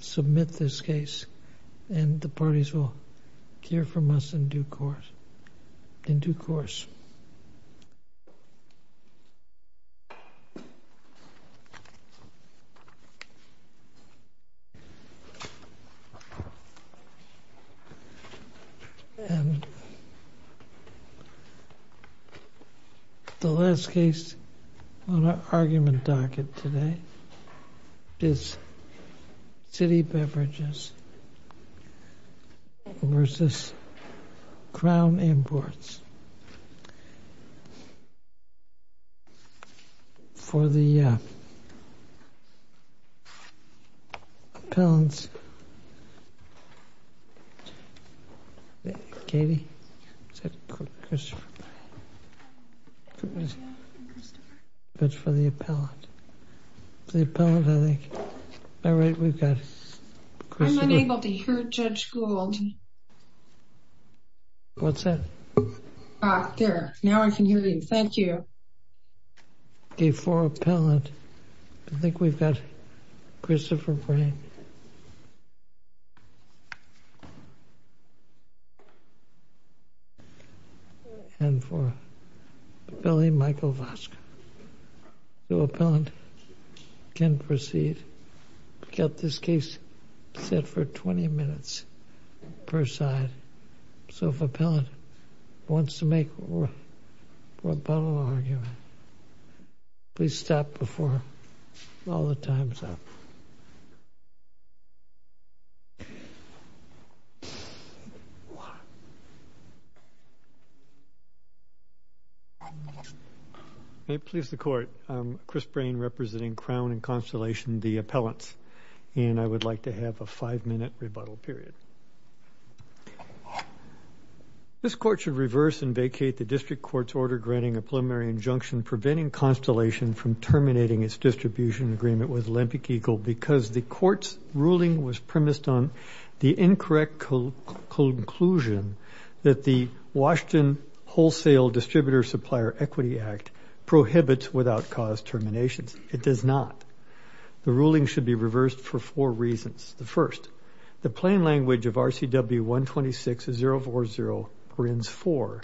Submit this case and the parties will hear from us in due course. And the last case on our argument docket today is City Beverages v. Crown Imports. For the, uh, appellant's... Katie? Is that Christopher? It's for the appellant. For the appellant, I think. All right, we've got Christopher. I'm unable to hear Judge Gould. What's that? Ah, there. Now I can hear you. Thank you. Okay, for appellant, I think we've got Christopher Brain. And for appellant, Michael Vosk. The appellant can proceed. We've got this case set for 20 minutes per side. So if appellant wants to make a rebuttal argument, please stop before all the time's up. Thank you. May it please the Court, I'm Chris Brain representing Crown and Constellation, the appellants. And I would like to have a five-minute rebuttal period. This Court should reverse and vacate the District Court's order granting a preliminary injunction preventing Constellation from terminating its distribution agreement with Olympic Eagle because the Court's ruling was premised on the incorrect conclusion that the Washington Wholesale Distributor Supplier Equity Act prohibits without cause terminations. It does not. The ruling should be reversed for four reasons. The first, the plain language of RCW 126040, Grins 4,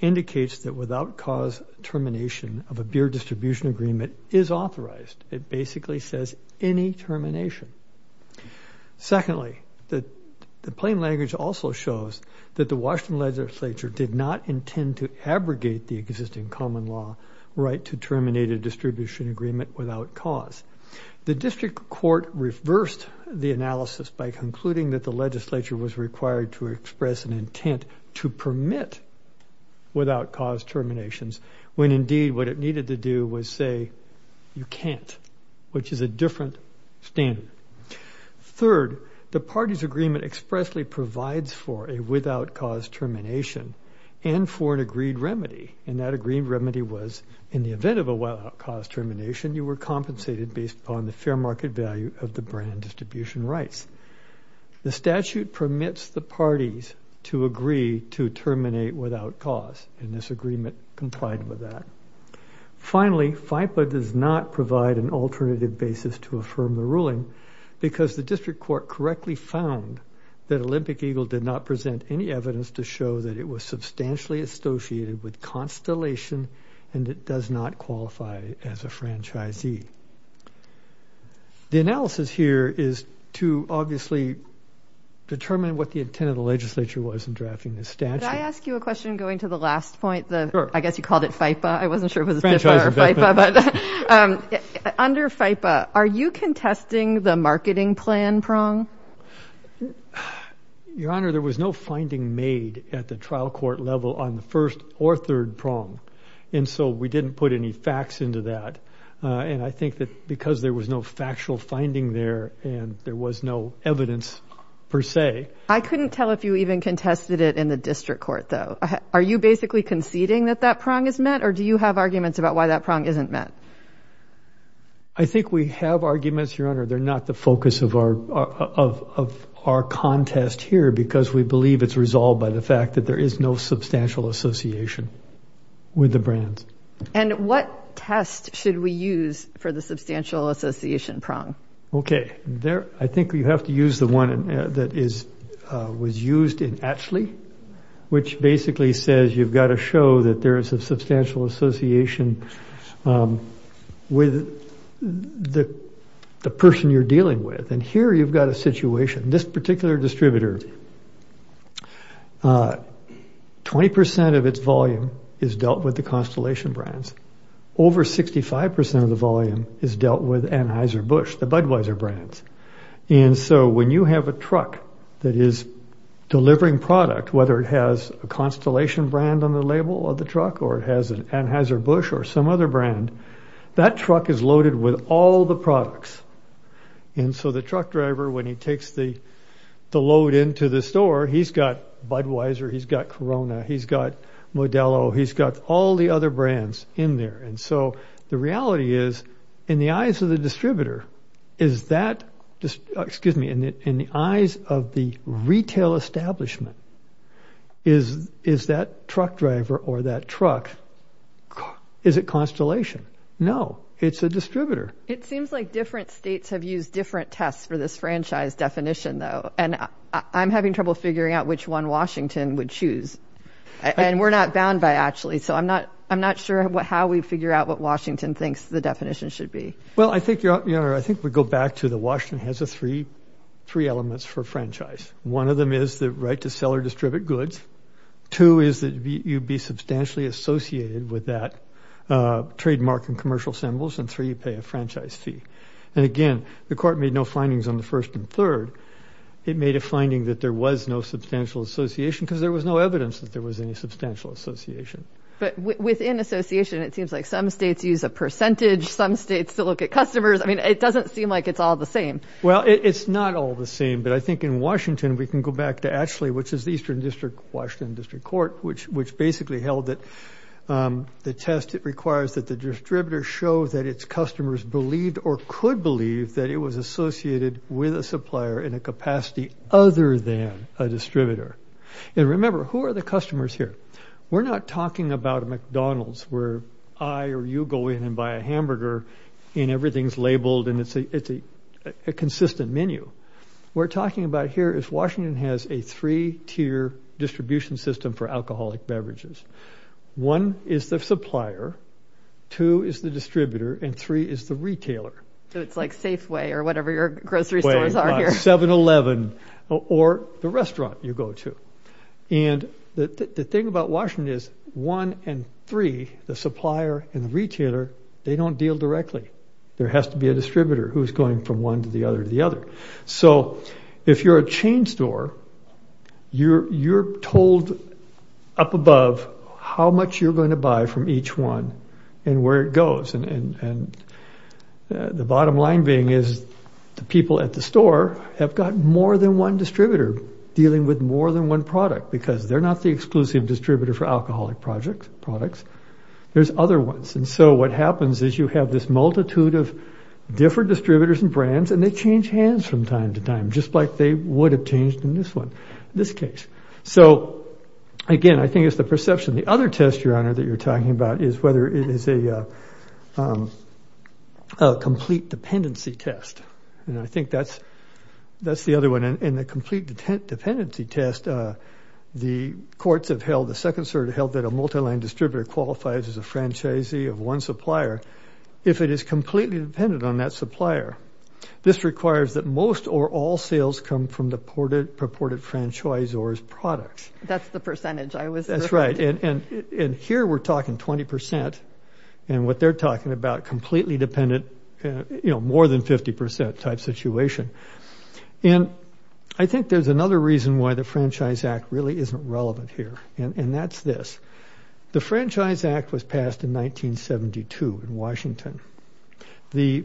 indicates that without cause termination of a beer distribution agreement is authorized. It basically says any termination. Secondly, the plain language also shows that the Washington Legislature did not intend to abrogate the existing common law right to terminate a distribution agreement without cause. The District Court reversed the analysis by concluding that the legislature was required to express an intent to permit without cause terminations when indeed what it needed to do was say you can't, which is a different standard. Third, the party's agreement expressly provides for a without cause termination and for an agreed remedy, and that agreed remedy was in the event of a without cause termination, you were compensated based upon the fair market value of the brand distribution rights. The statute permits the parties to agree to terminate without cause, and this agreement complied with that. Finally, FIPPA does not provide an alternative basis to affirm the ruling because the District Court correctly found that Olympic Eagle did not present any evidence to show that it was substantially associated with constellation and it does not qualify as a franchisee. The analysis here is to obviously determine what the intent of the legislature was in drafting this statute. Could I ask you a question going to the last point? Sure. I guess you called it FIPPA. I wasn't sure if it was FIPPA or FIPPA, but under FIPPA, are you contesting the marketing plan prong? Your Honor, there was no finding made at the trial court level on the first or third prong, and so we didn't put any facts into that, and I think that because there was no factual finding there and there was no evidence per se. I couldn't tell if you even contested it in the District Court, though. Are you basically conceding that that prong is met, or do you have arguments about why that prong isn't met? I think we have arguments, Your Honor. They're not the focus of our contest here because we believe it's resolved by the fact that there is no substantial association with the brands. And what test should we use for the substantial association prong? Okay. I think you have to use the one that was used in Atchley, which basically says you've got to show that there is a substantial association with the person you're dealing with, and here you've got a situation. This particular distributor, 20% of its volume is dealt with the Constellation brands. Over 65% of the volume is dealt with Anheuser-Busch, the Budweiser brands. And so when you have a truck that is delivering product, whether it has a Constellation brand on the label of the truck or it has an Anheuser-Busch or some other brand, that truck is loaded with all the products. And so the truck driver, when he takes the load into the store, he's got Budweiser, he's got Corona, he's got Modelo, he's got all the other brands in there. And so the reality is, in the eyes of the distributor, is that, excuse me, in the eyes of the retail establishment, is that truck driver or that truck, is it Constellation? No, it's a distributor. It seems like different states have used different tests for this franchise definition, though. And I'm having trouble figuring out which one Washington would choose. And we're not bound by, actually, so I'm not sure how we figure out what Washington thinks the definition should be. Well, I think we go back to that Washington has three elements for franchise. One of them is the right to sell or distribute goods. Two is that you'd be substantially associated with that trademark and commercial symbols. And three, you pay a franchise fee. And again, the court made no findings on the first and third. It made a finding that there was no substantial association because there was no evidence that there was any substantial association. But within association, it seems like some states use a percentage, some states still look at customers. I mean, it doesn't seem like it's all the same. Well, it's not all the same. But I think in Washington, we can go back to ATSLI, which is the Eastern District Washington District Court, which basically held that the test requires that the distributor show that its customers believed or could believe that it was associated with a supplier in a capacity other than a distributor. And remember, who are the customers here? We're not talking about a McDonald's where I or you go in and buy a hamburger and everything's labeled and it's a consistent menu. What we're talking about here is Washington has a three-tier distribution system for alcoholic beverages. One is the supplier, two is the distributor, and three is the retailer. So it's like Safeway or whatever your grocery stores are here. 7-Eleven or the restaurant you go to. And the thing about Washington is one and three, the supplier and the retailer, they don't deal directly. There has to be a distributor who's going from one to the other to the other. So if you're a chain store, you're told up above how much you're going to buy from each one and where it goes. And the bottom line being is the people at the store have got more than one distributor dealing with more than one product because they're not the exclusive distributor for alcoholic products. There's other ones. And so what happens is you have this multitude of different distributors and brands and they change hands from time to time just like they would have changed in this one, this case. So, again, I think it's the perception. The other test, Your Honor, that you're talking about is whether it is a complete dependency test. And I think that's the other one. In the complete dependency test, the courts have held, the Second Circuit held that a multiline distributor qualifies as a franchisee of one supplier if it is completely dependent on that supplier. This requires that most or all sales come from the purported franchisor's products. That's the percentage I was referring to. That's right. And here we're talking 20% and what they're talking about completely dependent, you know, more than 50% type situation. And I think there's another reason why the Franchise Act really isn't relevant here and that's this. The Franchise Act was passed in 1972 in Washington. The,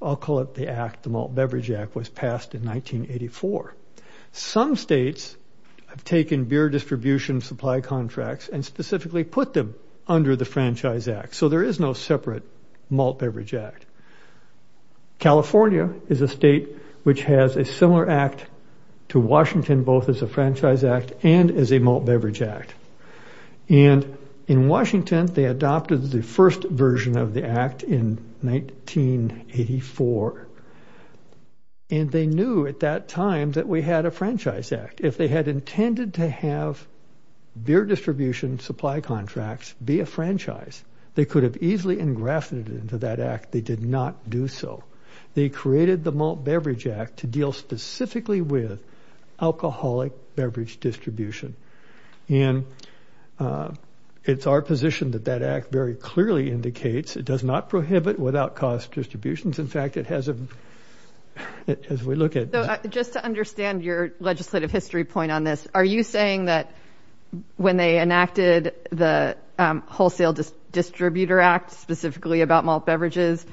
I'll call it the act, the Malt Beverage Act was passed in 1984. Some states have taken beer distribution supply contracts and specifically put them under the Franchise Act. So there is no separate Malt Beverage Act. California is a state which has a similar act to Washington both as a Franchise Act and as a Malt Beverage Act. And in Washington, they adopted the first version of the act in 1984. And they knew at that time that we had a Franchise Act. If they had intended to have beer distribution supply contracts be a franchise, they could have easily engrafted it into that act. They did not do so. They created the Malt Beverage Act to deal specifically with It's our position that that act very clearly indicates it does not prohibit without-cost distributions. In fact, it has a, as we look at. Just to understand your legislative history point on this, are you saying that when they enacted the Wholesale Distributor Act specifically about malt beverages,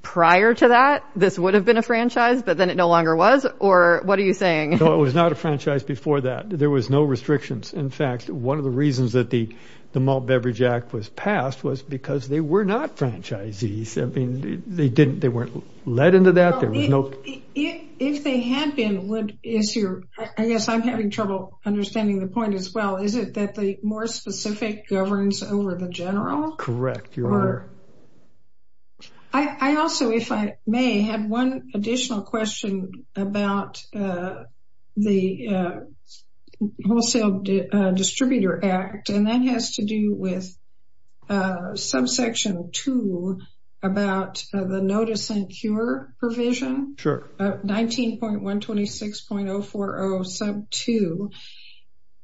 prior to that, this would have been a franchise but then it no longer was? Or what are you saying? No, it was not a franchise before that. There was no restrictions. In fact, one of the reasons that the Malt Beverage Act was passed was because they were not franchisees. They weren't led into that. If they had been, I guess I'm having trouble understanding the point as well. Is it that the more specific governs over the general? Correct. I also, if I may, have one additional question about the Wholesale Distributor Act, and that has to do with subsection 2 about the notice and cure provision. Sure. 19.126.040 sub 2,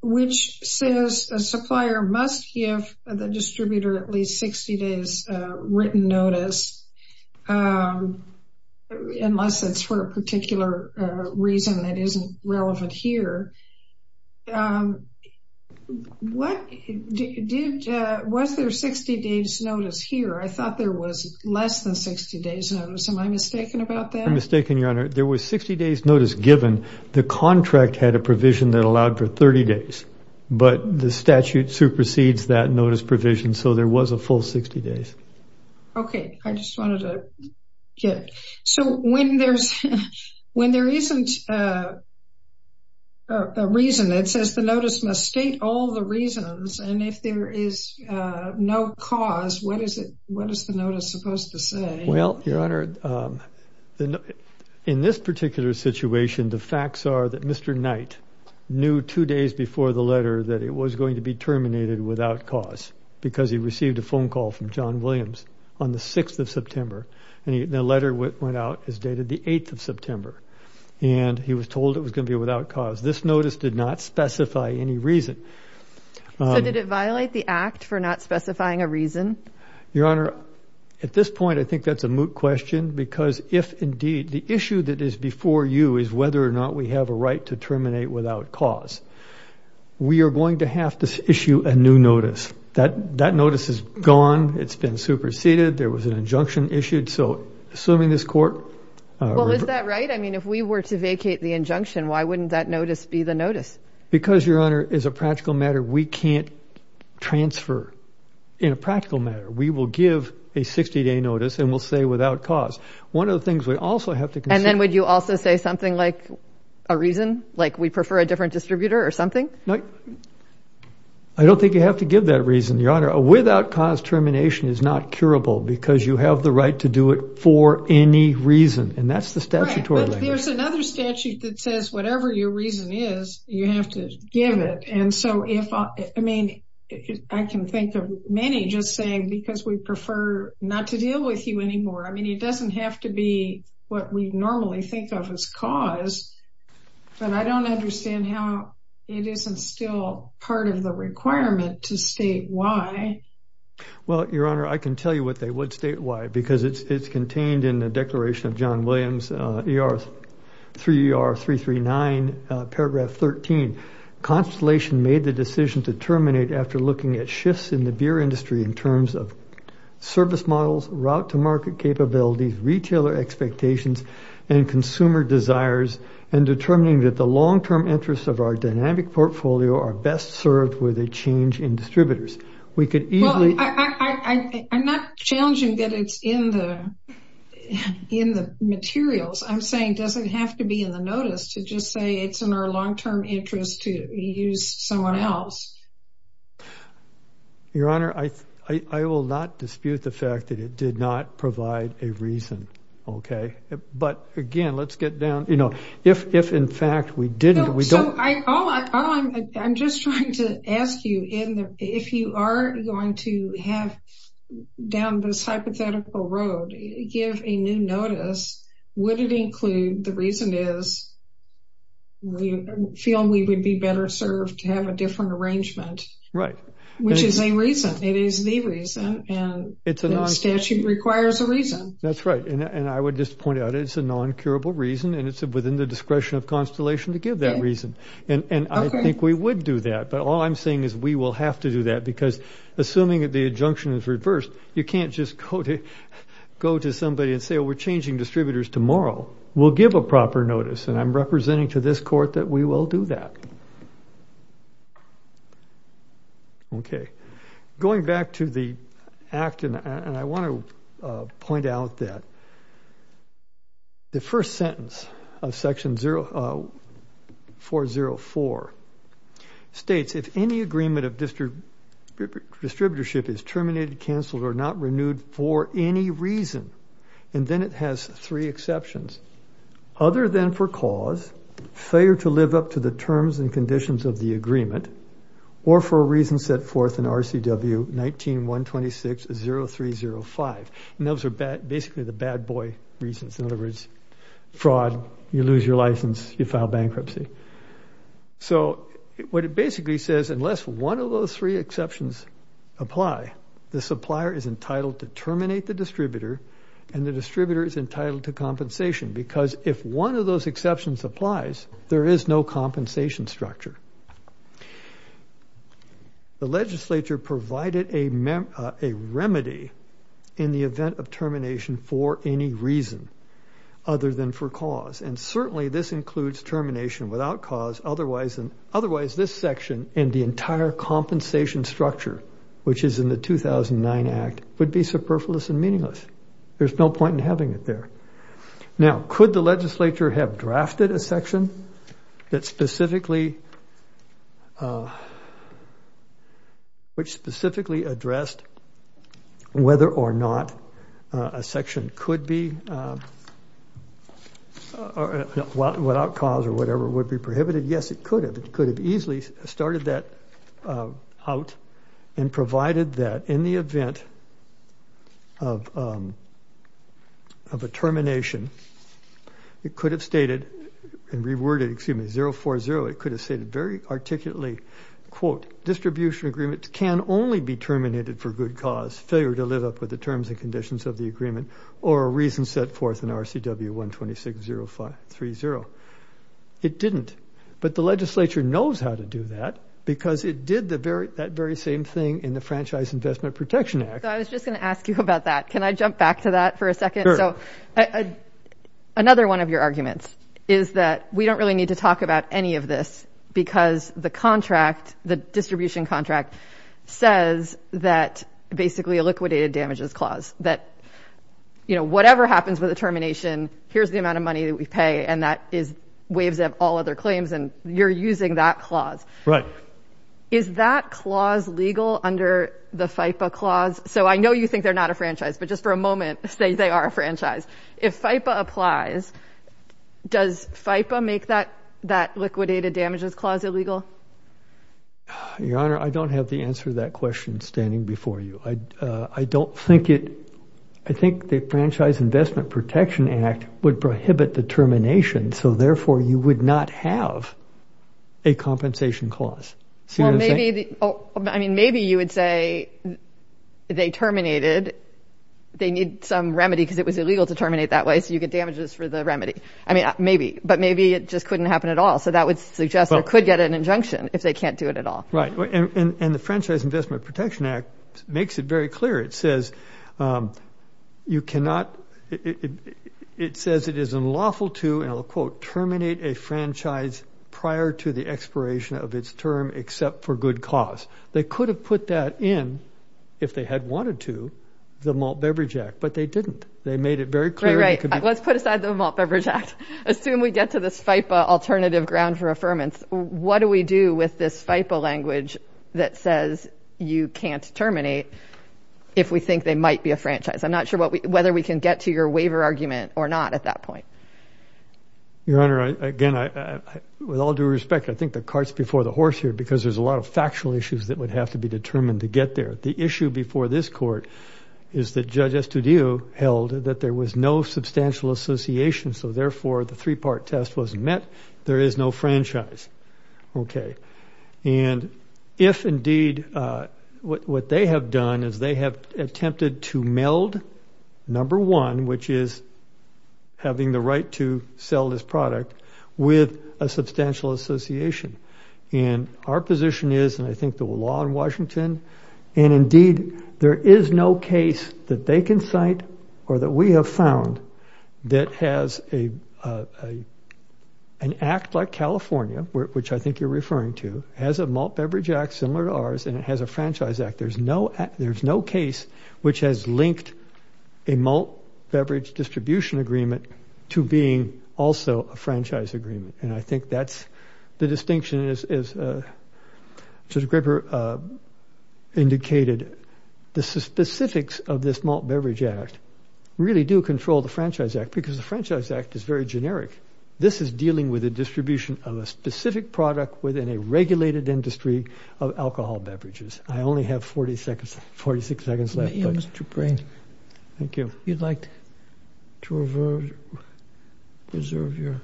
which says a supplier must give the distributor at least 60 days written notice, unless it's for a particular reason that isn't relevant here. Was there 60 days notice here? I thought there was less than 60 days notice. Am I mistaken about that? You're mistaken, Your Honor. There was 60 days notice given. The contract had a provision that allowed for 30 days, but the statute supersedes that notice provision, so there was a full 60 days. Okay. I just wanted to get it. So when there isn't a reason, it says the notice must state all the reasons, and if there is no cause, what is the notice supposed to say? Well, Your Honor, in this particular situation, the facts are that Mr. Knight knew two days before the letter that it was going to be terminated without cause, because he received a phone call from John Williams on the 6th of September, and the letter went out as dated the 8th of September, and he was told it was going to be without cause. This notice did not specify any reason. So did it violate the act for not specifying a reason? Your Honor, at this point, I think that's a moot question, because if indeed the issue that is before you is whether or not we have a right to terminate without cause, we are going to have to issue a new notice. That notice is gone. It's been superseded. There was an injunction issued. So assuming this court ---- Well, is that right? I mean, if we were to vacate the injunction, why wouldn't that notice be the notice? Because, Your Honor, as a practical matter, we can't transfer. In a practical matter, we will give a 60-day notice and we'll say without cause. One of the things we also have to consider ---- And then would you also say something like a reason, like we prefer a different distributor or something? I don't think you have to give that reason, Your Honor. A without cause termination is not curable, because you have the right to do it for any reason, and that's the statutory language. Right, but there's another statute that says whatever your reason is, you have to give it. And so if ---- I mean, I can think of many just saying because we prefer not to deal with you anymore. I mean, it doesn't have to be what we normally think of as cause, but I don't understand how it isn't still part of the requirement to state why. Well, Your Honor, I can tell you what they would state why, because it's contained in the Declaration of John Williams, 3ER339, paragraph 13. Constellation made the decision to terminate after looking at shifts in the beer industry in terms of service models, route-to-market capabilities, retailer expectations, and consumer desires, and determining that the long-term interests of our dynamic portfolio are best served with a change in distributors. We could easily ---- Well, I'm not challenging that it's in the materials. I'm saying does it have to be in the notice to just say it's in our long-term interests to use someone else? Your Honor, I will not dispute the fact that it did not provide a reason, okay? But again, let's get down ---- You know, if in fact we didn't, we don't ---- No, so I'm just trying to ask you if you are going to have down this hypothetical road give a new notice, would it include the reason is we feel we would be better served to have a different arrangement? Right. Which is a reason. It is the reason, and the statute requires a reason. That's right, and I would just point out it's a non-curable reason, and it's within the discretion of Constellation to give that reason. And I think we would do that, but all I'm saying is we will have to do that because assuming that the injunction is reversed, you can't just go to somebody and say, you know, we're changing distributors tomorrow. We'll give a proper notice, and I'm representing to this Court that we will do that. Okay. Going back to the act, and I want to point out that the first sentence of Section 404 states, if any agreement of distributorship is terminated, canceled, or not renewed for any reason, and then it has three exceptions, other than for cause, failure to live up to the terms and conditions of the agreement, or for a reason set forth in RCW 19-126-0305. And those are basically the bad boy reasons. In other words, fraud, you lose your license, you file bankruptcy. So what it basically says, unless one of those three exceptions apply, the supplier is entitled to terminate the distributor, and the distributor is entitled to compensation because if one of those exceptions applies, there is no compensation structure. The legislature provided a remedy in the event of termination for any reason other than for cause, and certainly this includes termination without cause, otherwise this section and the entire compensation structure, which is in the 2009 Act, would be superfluous and meaningless. There's no point in having it there. Now, could the legislature have drafted a section that specifically addressed whether or not a section could be, without cause or whatever, would be prohibited? Yes, it could have. It could have easily started that out and provided that in the event of a termination, it could have stated, and reworded, excuse me, 040, it could have stated very articulately, quote, distribution agreements can only be terminated for good cause, failure to live up with the terms and conditions of the agreement, or a reason set forth in RCW 126-0530. It didn't. But the legislature knows how to do that because it did that very same thing in the Franchise Investment Protection Act. I was just going to ask you about that. Can I jump back to that for a second? Sure. Another one of your arguments is that we don't really need to talk about any of this because the distribution contract says that, basically, a liquidated damages clause, that whatever happens with a termination, here's the amount of money that we pay and that is waves of all other claims, and you're using that clause. Right. Is that clause legal under the FIPPA clause? So I know you think they're not a franchise, but just for a moment, say they are a franchise. If FIPPA applies, does FIPPA make that liquidated damages clause illegal? Your Honor, I don't have the answer to that question standing before you. I don't think it, I think the Franchise Investment Protection Act would prohibit the termination, so therefore you would not have a compensation clause. See what I'm saying? Maybe you would say they terminated, they need some remedy because it was illegal to terminate that way, so you get damages for the remedy. Maybe, but maybe it just couldn't happen at all, so that would suggest they could get an injunction if they can't do it at all. Right. And the Franchise Investment Protection Act makes it very clear. It says you cannot, it says it is unlawful to, and I'll quote, terminate a franchise prior to the expiration of its term except for good cause. They could have put that in, if they had wanted to, the Malt Beverage Act, but they didn't. They made it very clear. Right, right. Let's put aside the Malt Beverage Act. Assume we get to this FIPPA alternative ground for affirmance. What do we do with this FIPPA language that says you can't terminate? If we think they might be a franchise. I'm not sure whether we can get to your waiver argument or not at that point. Your Honor, again, with all due respect, I think the cart's before the horse here because there's a lot of factual issues that would have to be determined to get there. The issue before this court is that Judge Estudillo held that there was no substantial association, so therefore the three-part test was met. There is no franchise. Okay. And if indeed what they have done is they have attempted to meld number one, which is having the right to sell this product, with a substantial association, and our position is, and I think the law in Washington, and indeed there is no case that they can cite or that we have found that has an act like California, which I think you're referring to, has a malt beverage act similar to ours and it has a franchise act. There's no case which has linked a malt beverage distribution agreement to being also a franchise agreement, and I think that's the distinction as Judge Graper indicated. The specifics of this malt beverage act really do control the franchise act because the franchise act is very generic. This is dealing with the distribution of a specific product within a regulated industry of alcohol beverages. I only have 40 seconds, 46 seconds left. Yeah, Mr. Brain. Thank you. You'd like to reserve your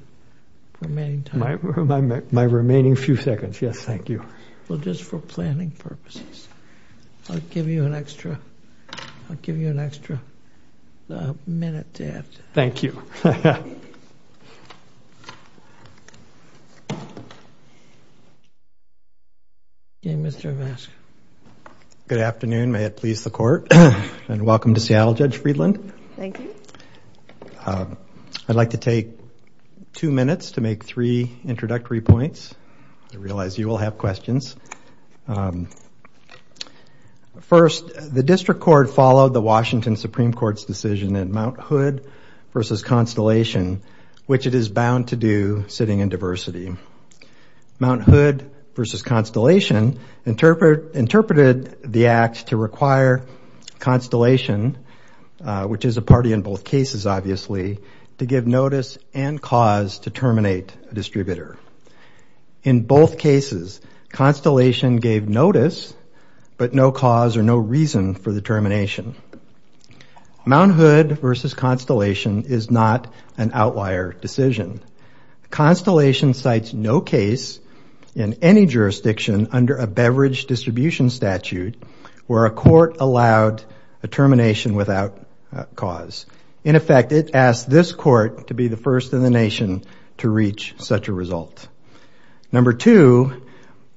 remaining time? My remaining few seconds, yes, thank you. Well, just for planning purposes, I'll give you an extra minute to add to that. Thank you. Thank you. Okay, Mr. Vasco. Good afternoon. May it please the Court, and welcome to Seattle, Judge Friedland. Thank you. I'd like to take two minutes to make three introductory points. I realize you will have questions. First, the District Court followed the Washington Supreme Court's decision in Mount Hood v. Constellation, which it is bound to do sitting in diversity. Mount Hood v. Constellation interpreted the act to require Constellation, which is a party in both cases, obviously, to give notice and cause to terminate a distributor. In both cases, Constellation gave notice, but no cause or no reason for the termination. Mount Hood v. Constellation is not an outlier decision. Constellation cites no case in any jurisdiction under a beverage distribution statute where a court allowed a termination without cause. In effect, it asked this court to be the first in the nation to reach such a result. Number two,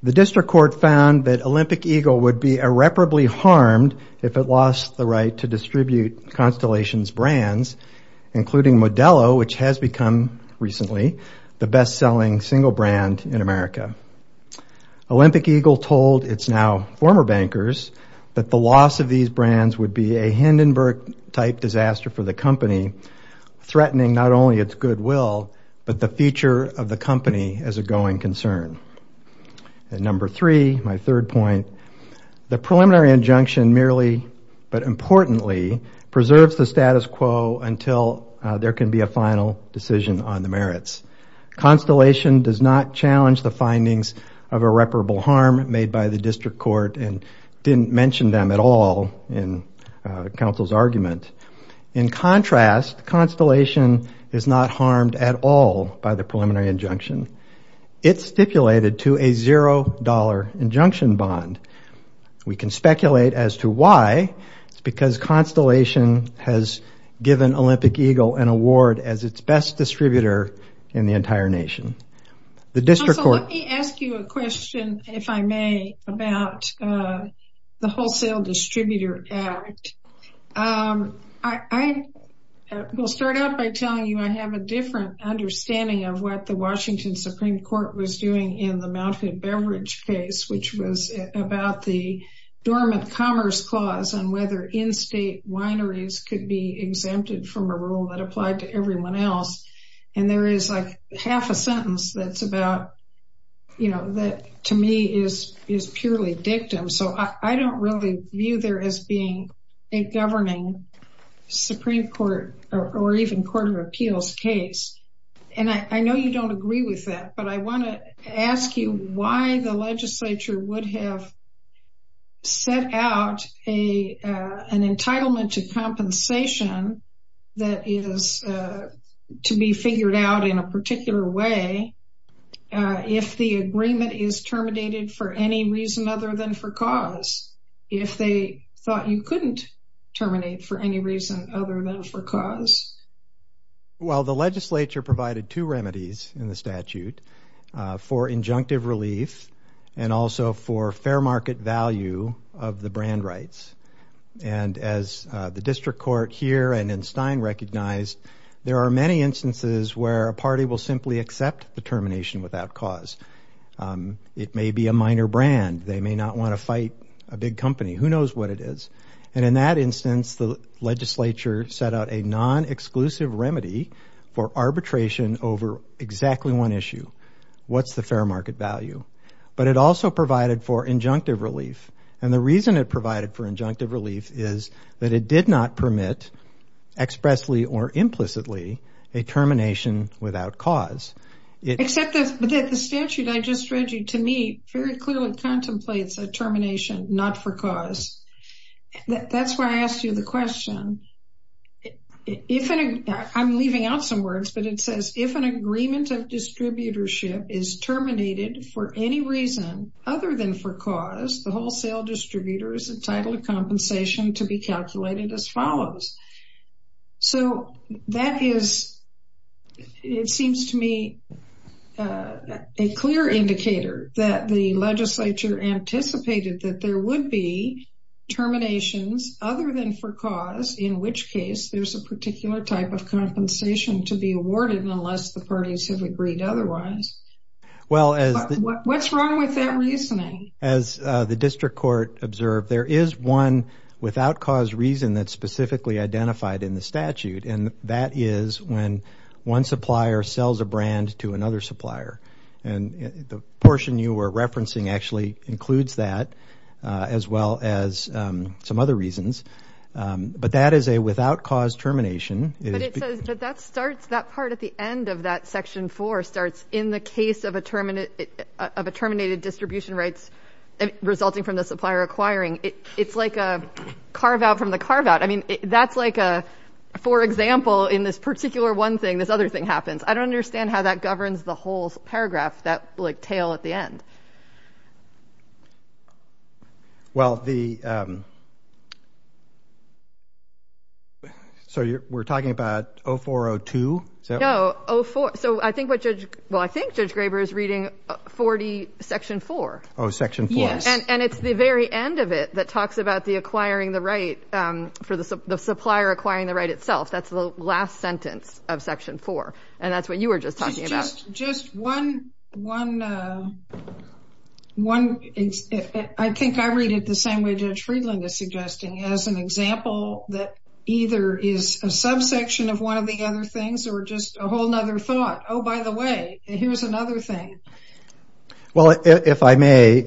the District Court found that Olympic Eagle would be irreparably harmed if it lost the right to distribute Constellation's brands, including Modelo, which has become, recently, the best-selling single brand in America. Olympic Eagle told its now former bankers that the loss of these brands would be a Hindenburg-type disaster for the company, threatening not only its goodwill, but the future of the company as a going concern. And number three, my third point, the preliminary injunction merely, but importantly, preserves the status quo until there can be a final decision on the merits. Constellation does not challenge the findings of irreparable harm made by the District Court and didn't mention them at all in counsel's argument. In contrast, Constellation is not harmed at all by the preliminary injunction. It's stipulated to a $0 injunction bond. We can speculate as to why. It's because Constellation has given Olympic Eagle an award as its best distributor in the entire nation. The District Court... Also, let me ask you a question, if I may, about the Wholesale Distributor Act. I will start out by telling you I have a different understanding of what the Washington Supreme Court was doing in the Mount Hood Beverage case, which was about the dormant commerce clause on whether in-state wineries could be exempted from a rule that applied to everyone else. And there is, like, half a sentence that's about, you know, that to me is purely dictum. So I don't really view there as being a governing Supreme Court or even court of appeals case. And I know you don't agree with that, but I want to ask you why the legislature would have set out an entitlement to compensation that is to be figured out in a particular way if the agreement is terminated for any reason other than for cause, if they thought you couldn't terminate for any reason other than for cause. Well, the legislature provided two remedies in the statute for injunctive relief and also for fair market value of the brand rights. And as the district court here and in Stein recognized, there are many instances where a party will simply accept the termination without cause. It may be a minor brand. They may not want to fight a big company. Who knows what it is? And in that instance, the legislature set out a non-exclusive remedy for arbitration over exactly one issue. What's the fair market value? But it also provided for injunctive relief. And the reason it provided for injunctive relief is that it did not permit expressly or implicitly a termination without cause. Except that the statute I just read you, to me, very clearly contemplates a termination not for cause. That's why I asked you the question. I'm leaving out some words, but it says, if an agreement of distributorship is terminated for any reason other than for cause, the wholesale distributor is entitled to compensation to be calculated as follows. So that is, it seems to me, a clear indicator that the legislature anticipated that there would be terminations other than for cause, in which case there's a particular type of compensation to be awarded unless the parties have agreed otherwise. What's wrong with that reasoning? As the district court observed, there is one without cause reason that's specifically identified in the statute, and that is when one supplier sells a brand to another supplier. And the portion you were referencing actually includes that as well as some other reasons. But that is a without cause termination. But it says that that starts, that part at the end of that section four starts in the case of a terminated distribution rights resulting from the supplier acquiring. It's like a carve-out from the carve-out. I mean, that's like a, for example, in this particular one thing, this other thing happens. I don't understand how that governs the whole paragraph, that like tail at the end. Well, the, so we're talking about 0402? No, so I think what Judge, well, I think Judge Graber is reading 40 section four. Oh, section four. And it's the very end of it that talks about the acquiring the right for the supplier acquiring the right itself. That's the last sentence of section four. And that's what you were just talking about. Just one, I think I read it the same way Judge Friedland is suggesting, as an example that either is a subsection of one of the other things or just a whole other thought. Oh, by the way, here's another thing. Well, if I may,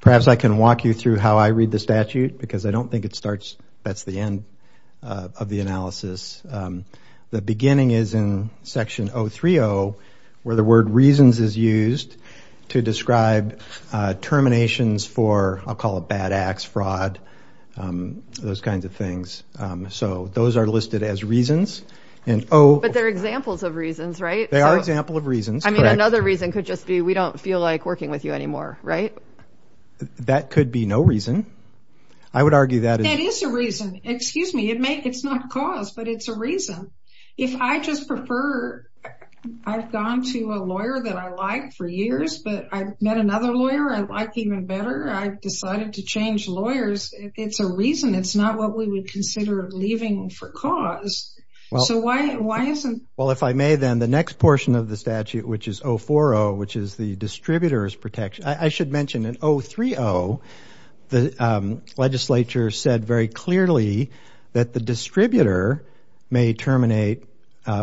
perhaps I can walk you through how I read the statute, because I don't think it starts, that's the end of the analysis. The beginning is in section 030, where the word reasons is used to describe terminations for, I'll call it bad acts, fraud, those kinds of things. So those are listed as reasons. But they're examples of reasons, right? They are example of reasons. I mean, another reason could just be, we don't feel like working with you anymore, right? That could be no reason. I would argue that is. That is a reason. Excuse me, it's not cause, but it's a reason. If I just prefer, I've gone to a lawyer that I liked for years, but I've met another lawyer I like even better. I've decided to change lawyers. It's a reason. It's not what we would consider leaving for cause. So why isn't? Well, if I may then, the next portion of the statute, which is 040, which is the distributor's protection. I should mention in 030, the legislature said very clearly that the distributor may terminate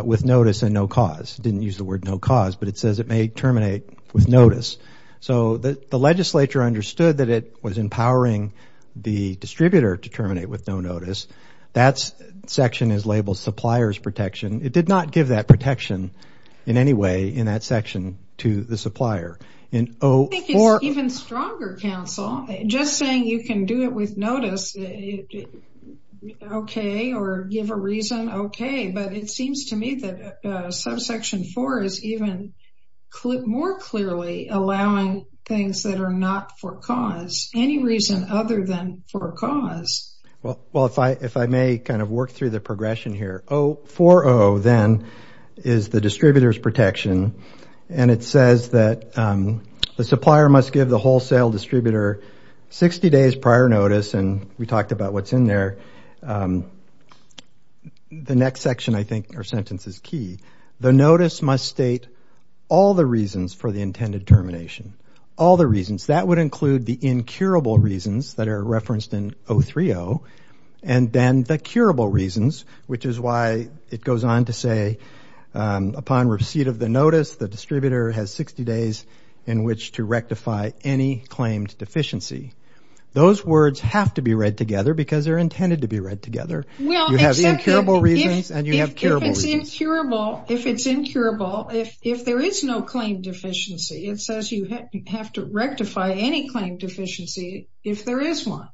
with notice and no cause. It didn't use the word no cause, but it says it may terminate with notice. So the legislature understood that it was empowering the distributor to terminate with no notice. That section is labeled supplier's protection. I think it's even stronger, counsel. Just saying you can do it with notice, okay, or give a reason, okay. But it seems to me that subsection four is even more clearly allowing things that are not for cause. Any reason other than for cause. Well, if I may kind of work through the progression here. 040 then is the distributor's protection. And it says that the supplier must give the wholesale distributor 60 days prior notice, and we talked about what's in there. The next section, I think, or sentence is key. The notice must state all the reasons for the intended termination. All the reasons. That would include the incurable reasons that are referenced in 030, and then the curable reasons, which is why it goes on to say, upon receipt of the notice, the distributor has 60 days in which to rectify any claimed deficiency. Those words have to be read together because they're intended to be read together. You have incurable reasons and you have curable reasons. If it's incurable, if there is no claimed deficiency, it says you have to rectify any claimed deficiency if there is one.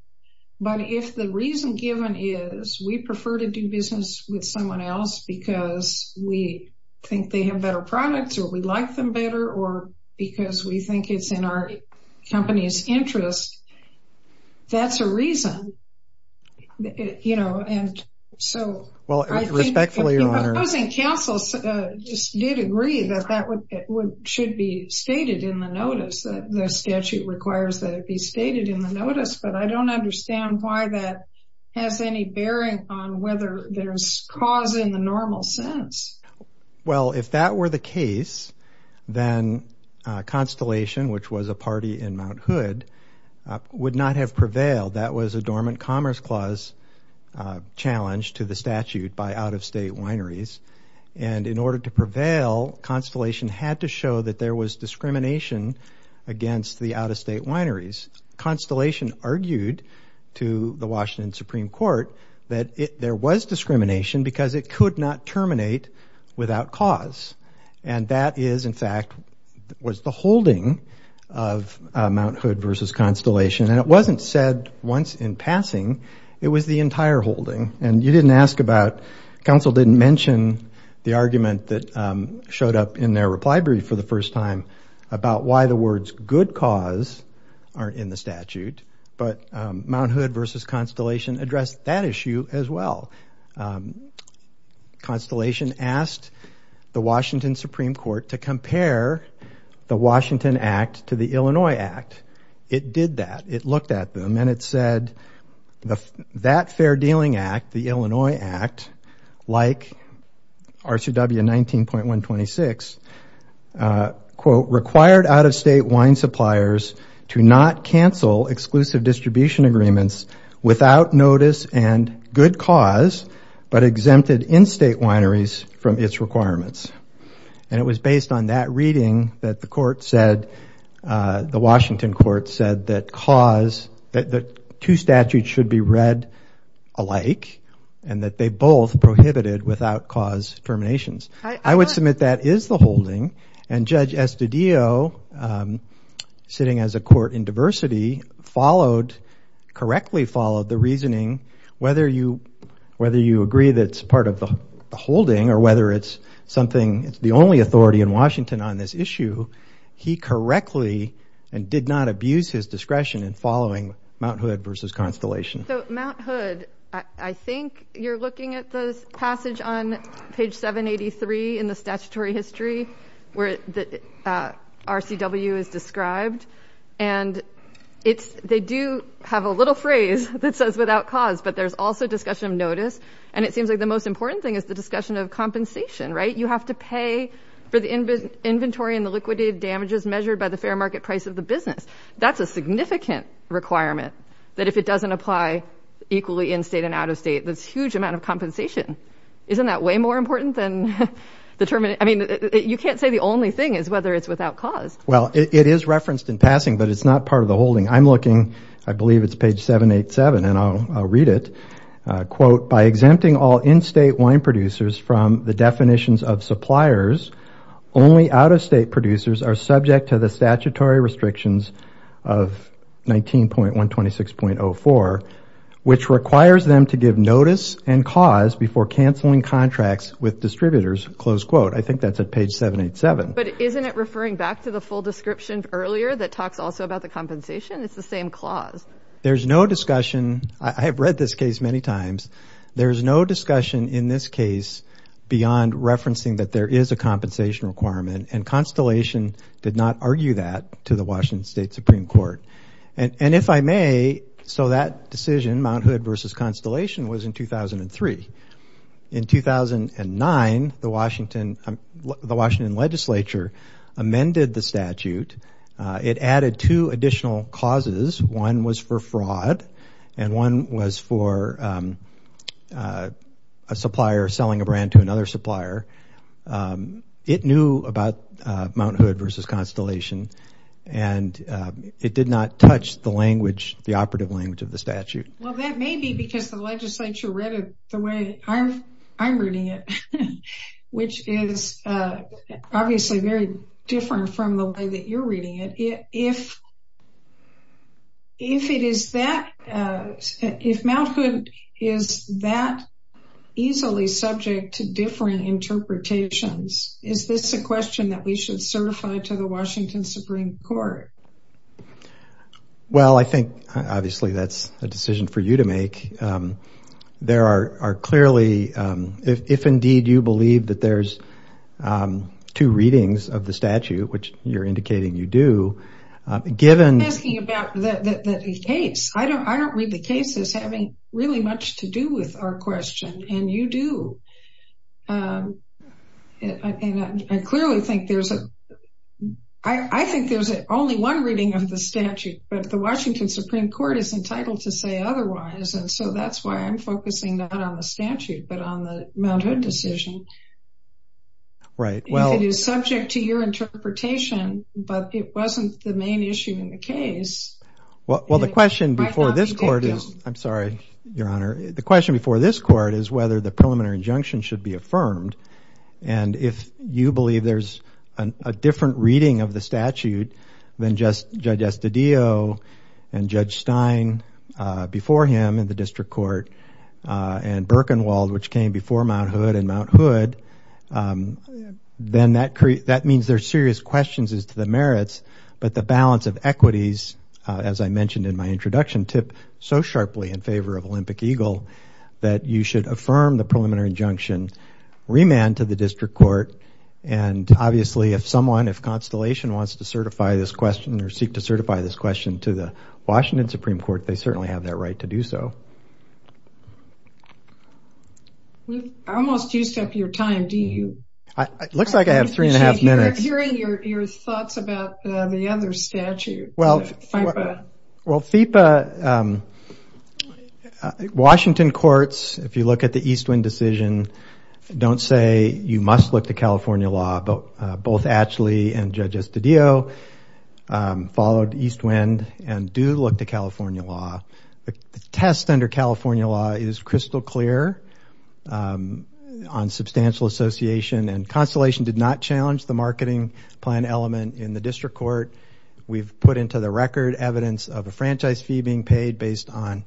But if the reason given is we prefer to do business with someone else because we think they have better products or we like them better or because we think it's in our company's interest, that's a reason. You know, and so. Well, respectfully, Your Honor. The opposing counsel just did agree that that should be stated in the notice. The statute requires that it be stated in the notice, but I don't understand why that has any bearing on whether there's cause in the normal sense. Well, if that were the case, then Constellation, which was a party in Mount Hood, would not have prevailed. That was a dormant commerce clause challenge to the statute by out-of-state wineries. And in order to prevail, Constellation had to show that there was discrimination against the out-of-state wineries. Constellation argued to the Washington Supreme Court that there was discrimination because it could not terminate without cause. And that is, in fact, was the holding of Mount Hood versus Constellation. And it wasn't said once in passing. It was the entire holding. And you didn't ask about, counsel didn't mention the argument that showed up in their reply brief for the first time about why the words good cause are in the statute. But Mount Hood versus Constellation addressed that issue as well. Constellation asked the Washington Supreme Court to compare the Washington Act to the Illinois Act. It did that. It looked at them and it said that fair dealing act, the Illinois Act, like R2W 19.126, quote, required out-of-state wine suppliers to not cancel exclusive distribution agreements without notice and good cause, but exempted in-state wineries from its requirements. And it was based on that reading that the court said, the Washington court said that cause, that two statutes should be read alike and that they both prohibited without cause terminations. I would submit that is the holding. And Judge Estudillo sitting as a court in diversity followed, correctly followed the reasoning, whether you, whether you agree that it's part of the holding or whether it's something, it's the only authority in Washington on this issue. He correctly and did not abuse his discretion in following Mount Hood versus Constellation. So Mount Hood, I think you're looking at the passage on page 783 in the statutory history. Where the RCW is described and it's, they do have a little phrase that says without cause, but there's also discussion of notice. And it seems like the most important thing is the discussion of compensation, right? You have to pay for the inventory and the liquidated damages measured by the fair market price of the business. That's a significant requirement that if it doesn't apply equally in-state and out-of-state, that's huge amount of compensation. Isn't that way more important than the term? I mean, you can't say the only thing is whether it's without cause. Well, it is referenced in passing, but it's not part of the holding. I'm looking, I believe it's page 787 and I'll read it. Quote, by exempting all in-state wine producers from the definitions of suppliers, only out-of-state producers are subject to the statutory restrictions of 19.126.04, which requires them to give notice and cause before canceling contracts with suppliers. I think that's at page 787. But isn't it referring back to the full description earlier that talks also about the compensation? It's the same clause. There's no discussion. I have read this case many times. There's no discussion in this case beyond referencing that there is a compensation requirement and Constellation did not argue that to the Washington State Supreme Court. And if I may, so that decision, Mount Hood versus Constellation, was in 2003. In 2009, the Washington legislature amended the statute. It added two additional clauses. One was for fraud and one was for a supplier selling a brand to another supplier. It knew about Mount Hood versus Constellation and it did not touch the language, the operative language of the statute. Well, that may be because the legislature read it the way I'm reading it, which is obviously very different from the way that you're reading it. If Mount Hood is that easily subject to different interpretations, is this a question that we should certify to the Washington Supreme Court? Well, I think obviously that's a decision for you to make. There are clearly, if indeed you believe that there's two readings of the statute, which you're indicating you do, given... I'm asking about the case. I don't read the case as having really much to do with our question and you do. I clearly think there's a... I think there's only one reading of the statute, but the Washington Supreme Court is entitled to say otherwise, and so that's why I'm focusing not on the statute, but on the Mount Hood decision. Right, well... If it is subject to your interpretation, but it wasn't the main issue in the case... Well, the question before this court is... I'm sorry, Your Honor. The question before this court is whether the preliminary injunction should be affirmed, and if you believe there's a different reading of the statute than Judge Estadillo and Judge Stein before him in the district court, and Birkenwald, which came before Mount Hood, and Mount Hood, then that means there's serious questions as to the merits, but the balance of equities, as I mentioned in my introduction, tip so sharply in favor of Olympic Eagle that you should affirm the preliminary injunction, remand to the district court, and obviously if someone, if Constellation wants to certify this question or seek to certify this question to the Washington Supreme Court, they certainly have that right to do so. We've almost used up your time, do you? It looks like I have three and a half minutes. Hearing your thoughts about the other statute, FIPA. Well, FIPA, Washington courts, if you look at the East Wind decision, don't say you must look to California law, but both Ashley and Judge Estadillo followed East Wind and do look to California law. The test under California law is crystal clear on substantial association, and Constellation did not challenge the marketing plan element in the district court. We've put into the record evidence of a franchise fee being paid based on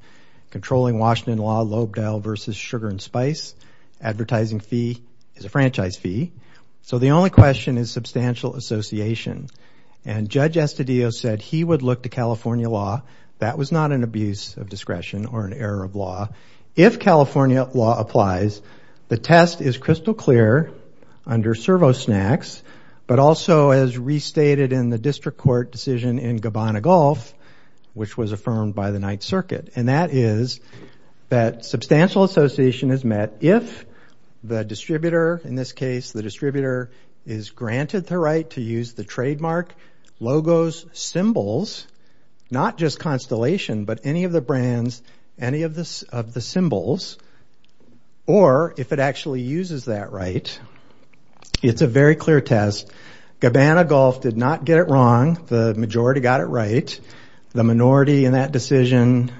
controlling Washington law, Lobedale versus Sugar and Spice. Advertising fee is a franchise fee. So the only question is substantial association, and Judge Estadillo said he would look to California law. That was not an abuse of discretion or an error of law. If California law applies, the test is crystal clear under Servo Snacks, but also as restated in the district court decision in Gabbana Golf, which was affirmed by the Ninth Circuit, and that is that substantial association is met if the distributor, in this case, the distributor is granted the right to use the trademark, logos, symbols, not just Constellation, but any of the brands, any of the symbols, or if it actually uses that right. It's a very clear test. Gabbana Golf did not get it wrong. The majority got it right. The minority in that decision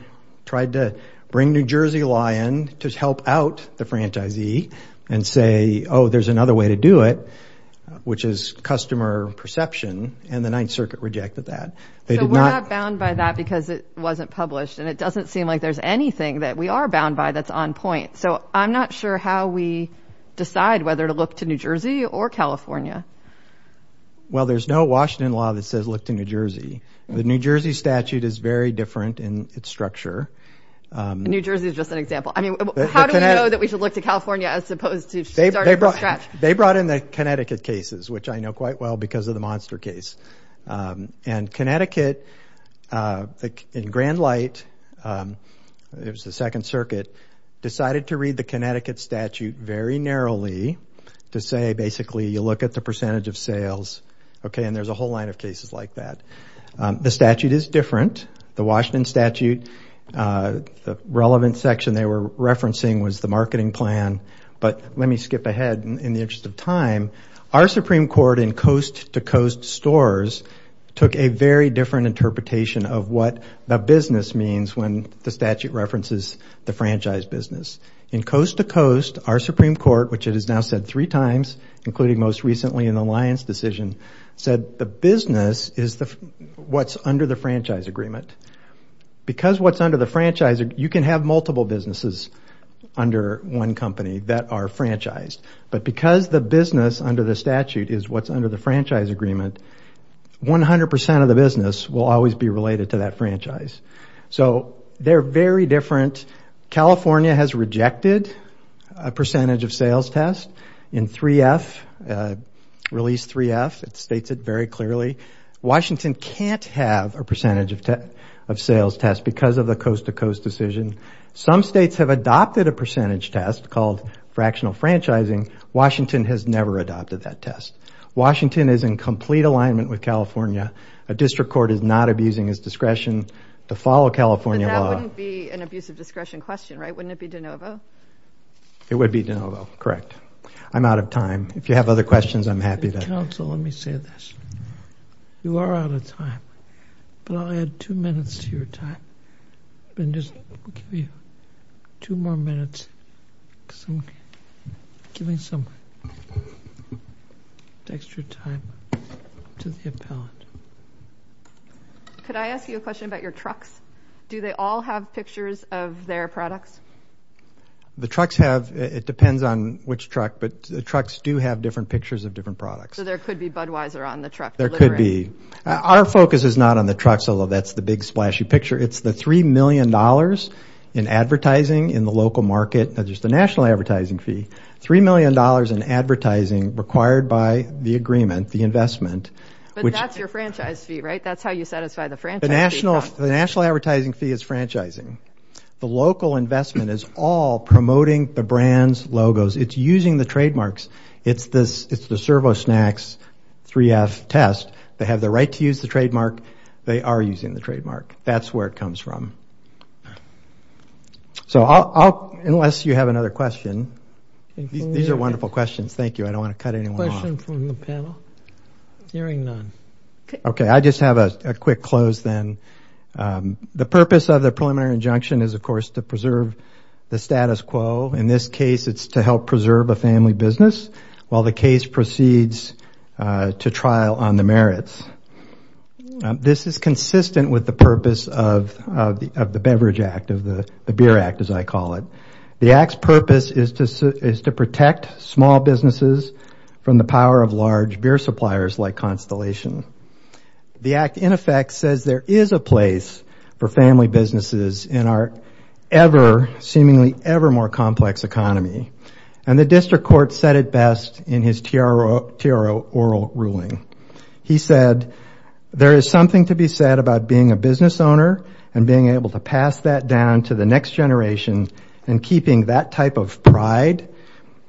tried to bring New Jersey law in to help out the franchisee and say, oh, there's another way to do it, which is customer perception, and the Ninth Circuit rejected that. So we're not bound by that because it wasn't published, and it doesn't seem like there's anything that we are bound by that's on point. So I'm not sure how we decide whether to look to New Jersey or California. Well, there's no Washington law that says look to New Jersey. The New Jersey statute is very different in its structure. New Jersey is just an example. I mean, how do we know that we should look to California as opposed to starting from scratch? They brought in the Connecticut cases, which I know quite well because of the Monster case, and Connecticut in grand light, it was the Second Circuit, decided to read the Connecticut statute very narrowly to say, basically, you look at the percentage of sales, okay, and there's a whole line of cases like that. The statute is different. The Washington statute, the relevant section they were referencing was the marketing plan, but let me skip ahead in the interest of time. Our Supreme Court in coast-to-coast stores took a very different interpretation of what the business means when the statute references the franchise business. In coast-to-coast, our Supreme Court, which it has now said three times, including most recently in the Lyons decision, said the business is what's under the franchise agreement. Because what's under the franchise, you can have multiple businesses under one company that are franchised, but because the business under the statute is what's under the franchise agreement, 100% of the business will always be related to that franchise. So they're very different. California has rejected a percentage of sales test in 3F, release 3F. It states it very clearly. Washington can't have a percentage of sales test because of the coast-to-coast decision. Some states have adopted a percentage test called fractional franchising. Washington has never adopted that test. Washington is in complete alignment with California. A district court is not abusing its discretion to follow California law. But that wouldn't be an abuse of discretion question, right? Wouldn't it be de novo? It would be de novo, correct. I'm out of time. If you have other questions, I'm happy to. Counsel, let me say this. You are out of time, but I'll add two minutes to your time. And just give you two more minutes because I'm giving some extra time to the appellant. Could I ask you a question about your trucks? Do they all have pictures of their products? The trucks have. It depends on which truck, but the trucks do have different pictures of different products. So there could be Budweiser on the truck. There could be. Our focus is not on the trucks, although that's the big, splashy picture. It's the $3 million in advertising in the local market. There's the national advertising fee. $3 million in advertising required by the agreement, the investment. But that's your franchise fee, right? That's how you satisfy the franchise fee. The national advertising fee is franchising. The local investment is all promoting the brand's logos. It's using the trademarks. It's the ServoSnacks 3F test. They have the right to use the trademark. They are using the trademark. That's where it comes from. So unless you have another question. These are wonderful questions. Thank you. I don't want to cut anyone off. A question from the panel? Hearing none. Okay. I just have a quick close then. The purpose of the preliminary injunction is, of course, to preserve the status quo. In this case, it's to help preserve a family business while the case proceeds to trial on the merits. This is consistent with the purpose of the Beverage Act, of the Beer Act, as I call it. The Act's purpose is to protect small businesses from the power of large beer suppliers like Constellation. The Act, in effect, says there is a place for family businesses in our seemingly ever more complex economy. And the district court said it best in his TRO oral ruling. He said there is something to be said about being a business owner and being able to pass that down to the next generation and keeping that type of pride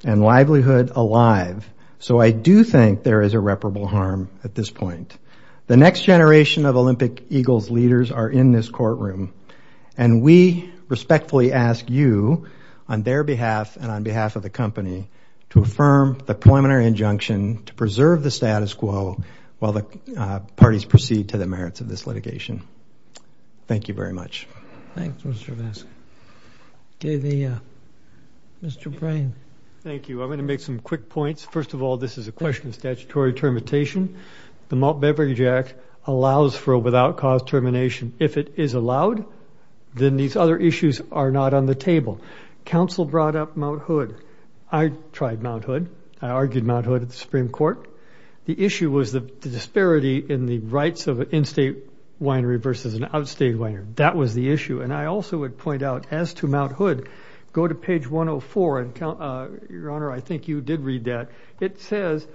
and livelihood alive. So I do think there is irreparable harm at this point. The next generation of Olympic Eagles leaders are in this courtroom. And we respectfully ask you, on their behalf and on behalf of the company, to affirm the preliminary injunction to preserve the status quo while the parties proceed to the merits of this litigation. Thank you very much. Thanks, Mr. Vesk. Mr. Brain. Thank you. I'm going to make some quick points. First of all, this is a question of statutory termination. The Malt Beverage Act allows for a without cause termination. If it is allowed, then these other issues are not on the table. Council brought up Mt. Hood. I tried Mt. Hood. I argued Mt. Hood at the Supreme Court. The issue was the disparity in the rights of an in-state winery versus an out-state winery. That was the issue. And I also would point out, as to Mt. Hood, go to page 104. Your Honor, I think you did read that. It says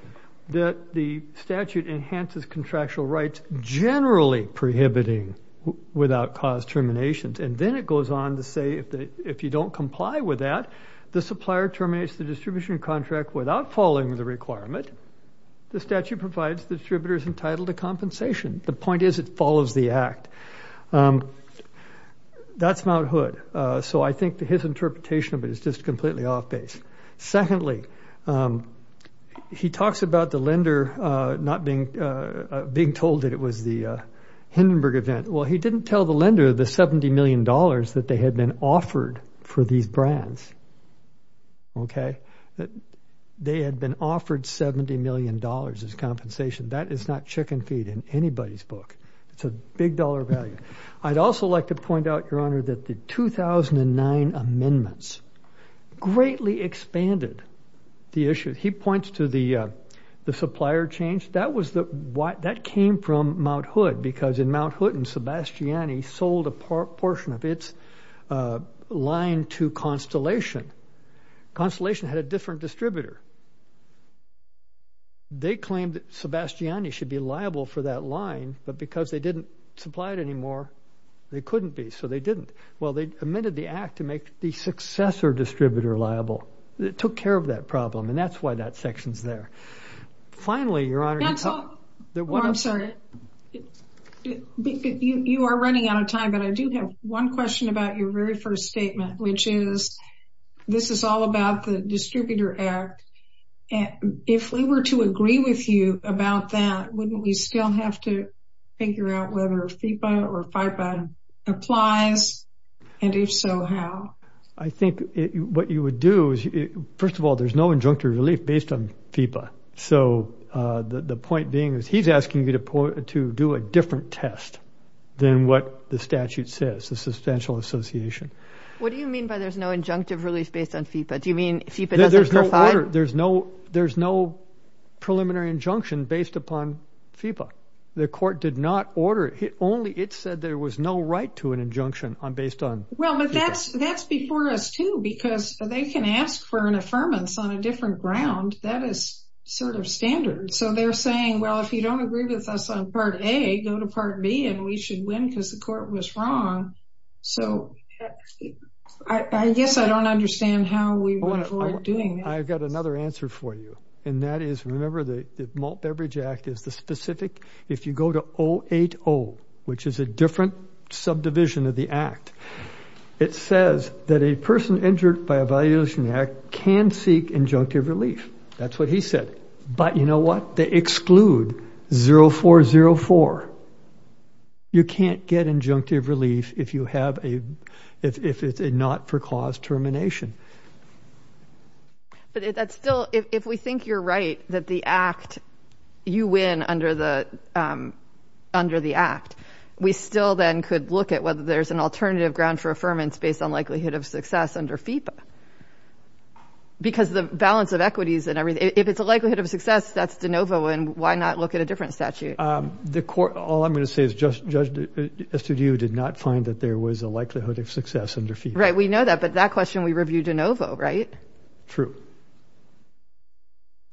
that the statute enhances contractual rights, generally prohibiting without cause terminations. And then it goes on to say, if you don't comply with that, the supplier terminates the distribution contract without following the requirement. The statute provides the distributors entitled to compensation. The point is it follows the act. That's Mt. Hood. So I think his interpretation of it is just completely off-base. Secondly, he talks about the lender not being told that it was the Hindenburg event. Well, he didn't tell the lender the $70 million that they had been offered for these brands. Okay? They had been offered $70 million as compensation. That is not chicken feed in anybody's book. It's a big dollar value. I'd also like to point out, Your Honor, that the 2009 amendments greatly expanded the issue. He points to the supplier change. That came from Mt. Hood because Mt. Hood and Sebastiani sold a portion of its line to Constellation. Constellation had a different distributor. They claimed Sebastiani should be liable for that line, but because they didn't supply it anymore, they couldn't be, so they didn't. Well, they amended the act to make the successor distributor liable. It took care of that problem, and that's why that section's there. Finally, Your Honor— That's all. Oh, I'm sorry. You are running out of time, but I do have one question about your very first statement, which is this is all about the Distributor Act. If we were to agree with you about that, wouldn't we still have to figure out whether FIPA or FIPA applies? And if so, how? I think what you would do is—first of all, there's no injunctive relief based on FIPA. So the point being is he's asking you to do a different test than what the statute says, the substantial association. What do you mean by there's no injunctive relief based on FIPA? Do you mean FIPA doesn't qualify? There's no order. There's no preliminary injunction based upon FIPA. The Court did not order it. Only it said there was no right to an injunction based on FIPA. Well, but that's before us, too, because they can ask for an affirmance on a different ground. That is sort of standard. So they're saying, well, if you don't agree with us on Part A, go to Part B, and we should win because the Court was wrong. So I guess I don't understand how we would avoid doing that. I've got another answer for you, and that is remember the Malt Beverage Act is the specific— which is a different subdivision of the Act. It says that a person injured by a violation of the Act can seek injunctive relief. That's what he said. But you know what? They exclude 0404. You can't get injunctive relief if you have a—if it's a not-for-cause termination. But that's still—if we think you're right that the Act—you win under the Act, we still then could look at whether there's an alternative ground for affirmance based on likelihood of success under FIPA. Because the balance of equities and everything—if it's a likelihood of success, that's de novo, and why not look at a different statute? The Court—all I'm going to say is Judge Estudillo did not find that there was a likelihood of success under FIPA. Right. We know that. But that question we reviewed de novo, right? True.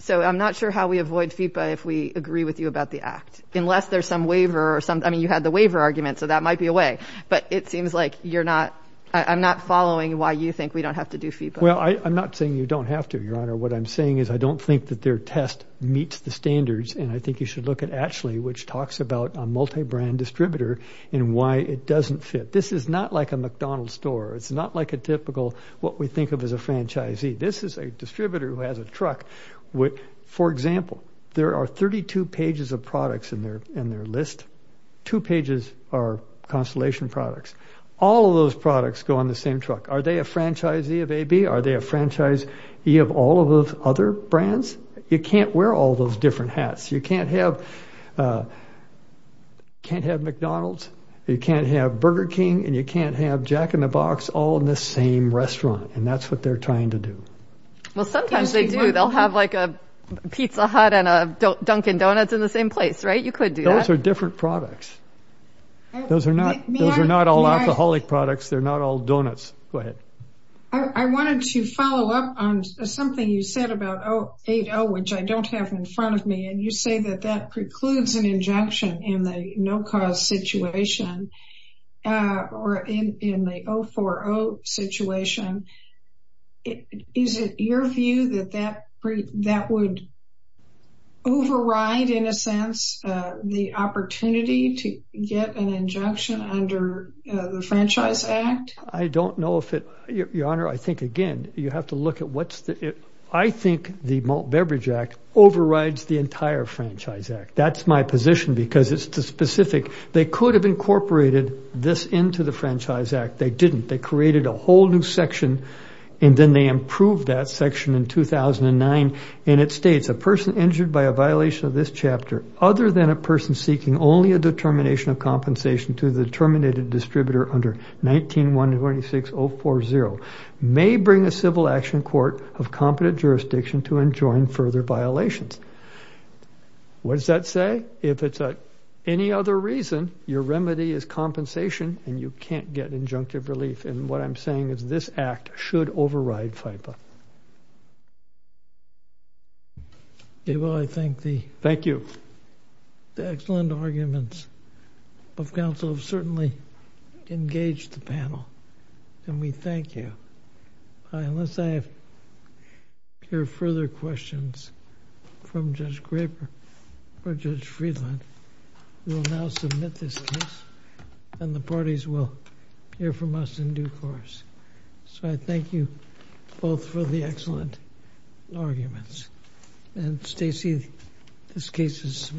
So I'm not sure how we avoid FIPA if we agree with you about the Act, unless there's some waiver or some— I mean, you had the waiver argument, so that might be a way. But it seems like you're not—I'm not following why you think we don't have to do FIPA. Well, I'm not saying you don't have to, Your Honor. What I'm saying is I don't think that their test meets the standards, and I think you should look at Atchley, which talks about a multibrand distributor and why it doesn't fit. This is not like a McDonald's store. It's not like a typical—what we think of as a franchisee. This is a distributor who has a truck. For example, there are 32 pages of products in their list. Two pages are Constellation products. All of those products go on the same truck. Are they a franchisee of AB? Are they a franchisee of all of those other brands? You can't wear all those different hats. You can't have McDonald's. You can't have Burger King, and you can't have Jack in the Box all in the same restaurant, and that's what they're trying to do. Well, sometimes they do. They'll have, like, a Pizza Hut and a Dunkin' Donuts in the same place, right? You could do that. Those are different products. Those are not all alcoholic products. They're not all donuts. Go ahead. I wanted to follow up on something you said about 080, which I don't have in front of me, and you say that that precludes an injunction in the no-cause situation or in the 040 situation. Is it your view that that would override, in a sense, the opportunity to get an injunction under the Franchise Act? I don't know if it—Your Honor, I think, again, you have to look at what's the— That's my position because it's specific. They could have incorporated this into the Franchise Act. They didn't. They created a whole new section, and then they improved that section in 2009, and it states, What does that say? If it's any other reason, your remedy is compensation, and you can't get injunctive relief. And what I'm saying is this Act should override FIPPA. Yeah, well, I think the— Thank you. The excellent arguments of counsel have certainly engaged the panel, and we thank you. Unless I hear further questions from Judge Graper or Judge Friedland, we will now submit this case, and the parties will hear from us in due course. So I thank you both for the excellent arguments. And, Stacy, this case is submitted.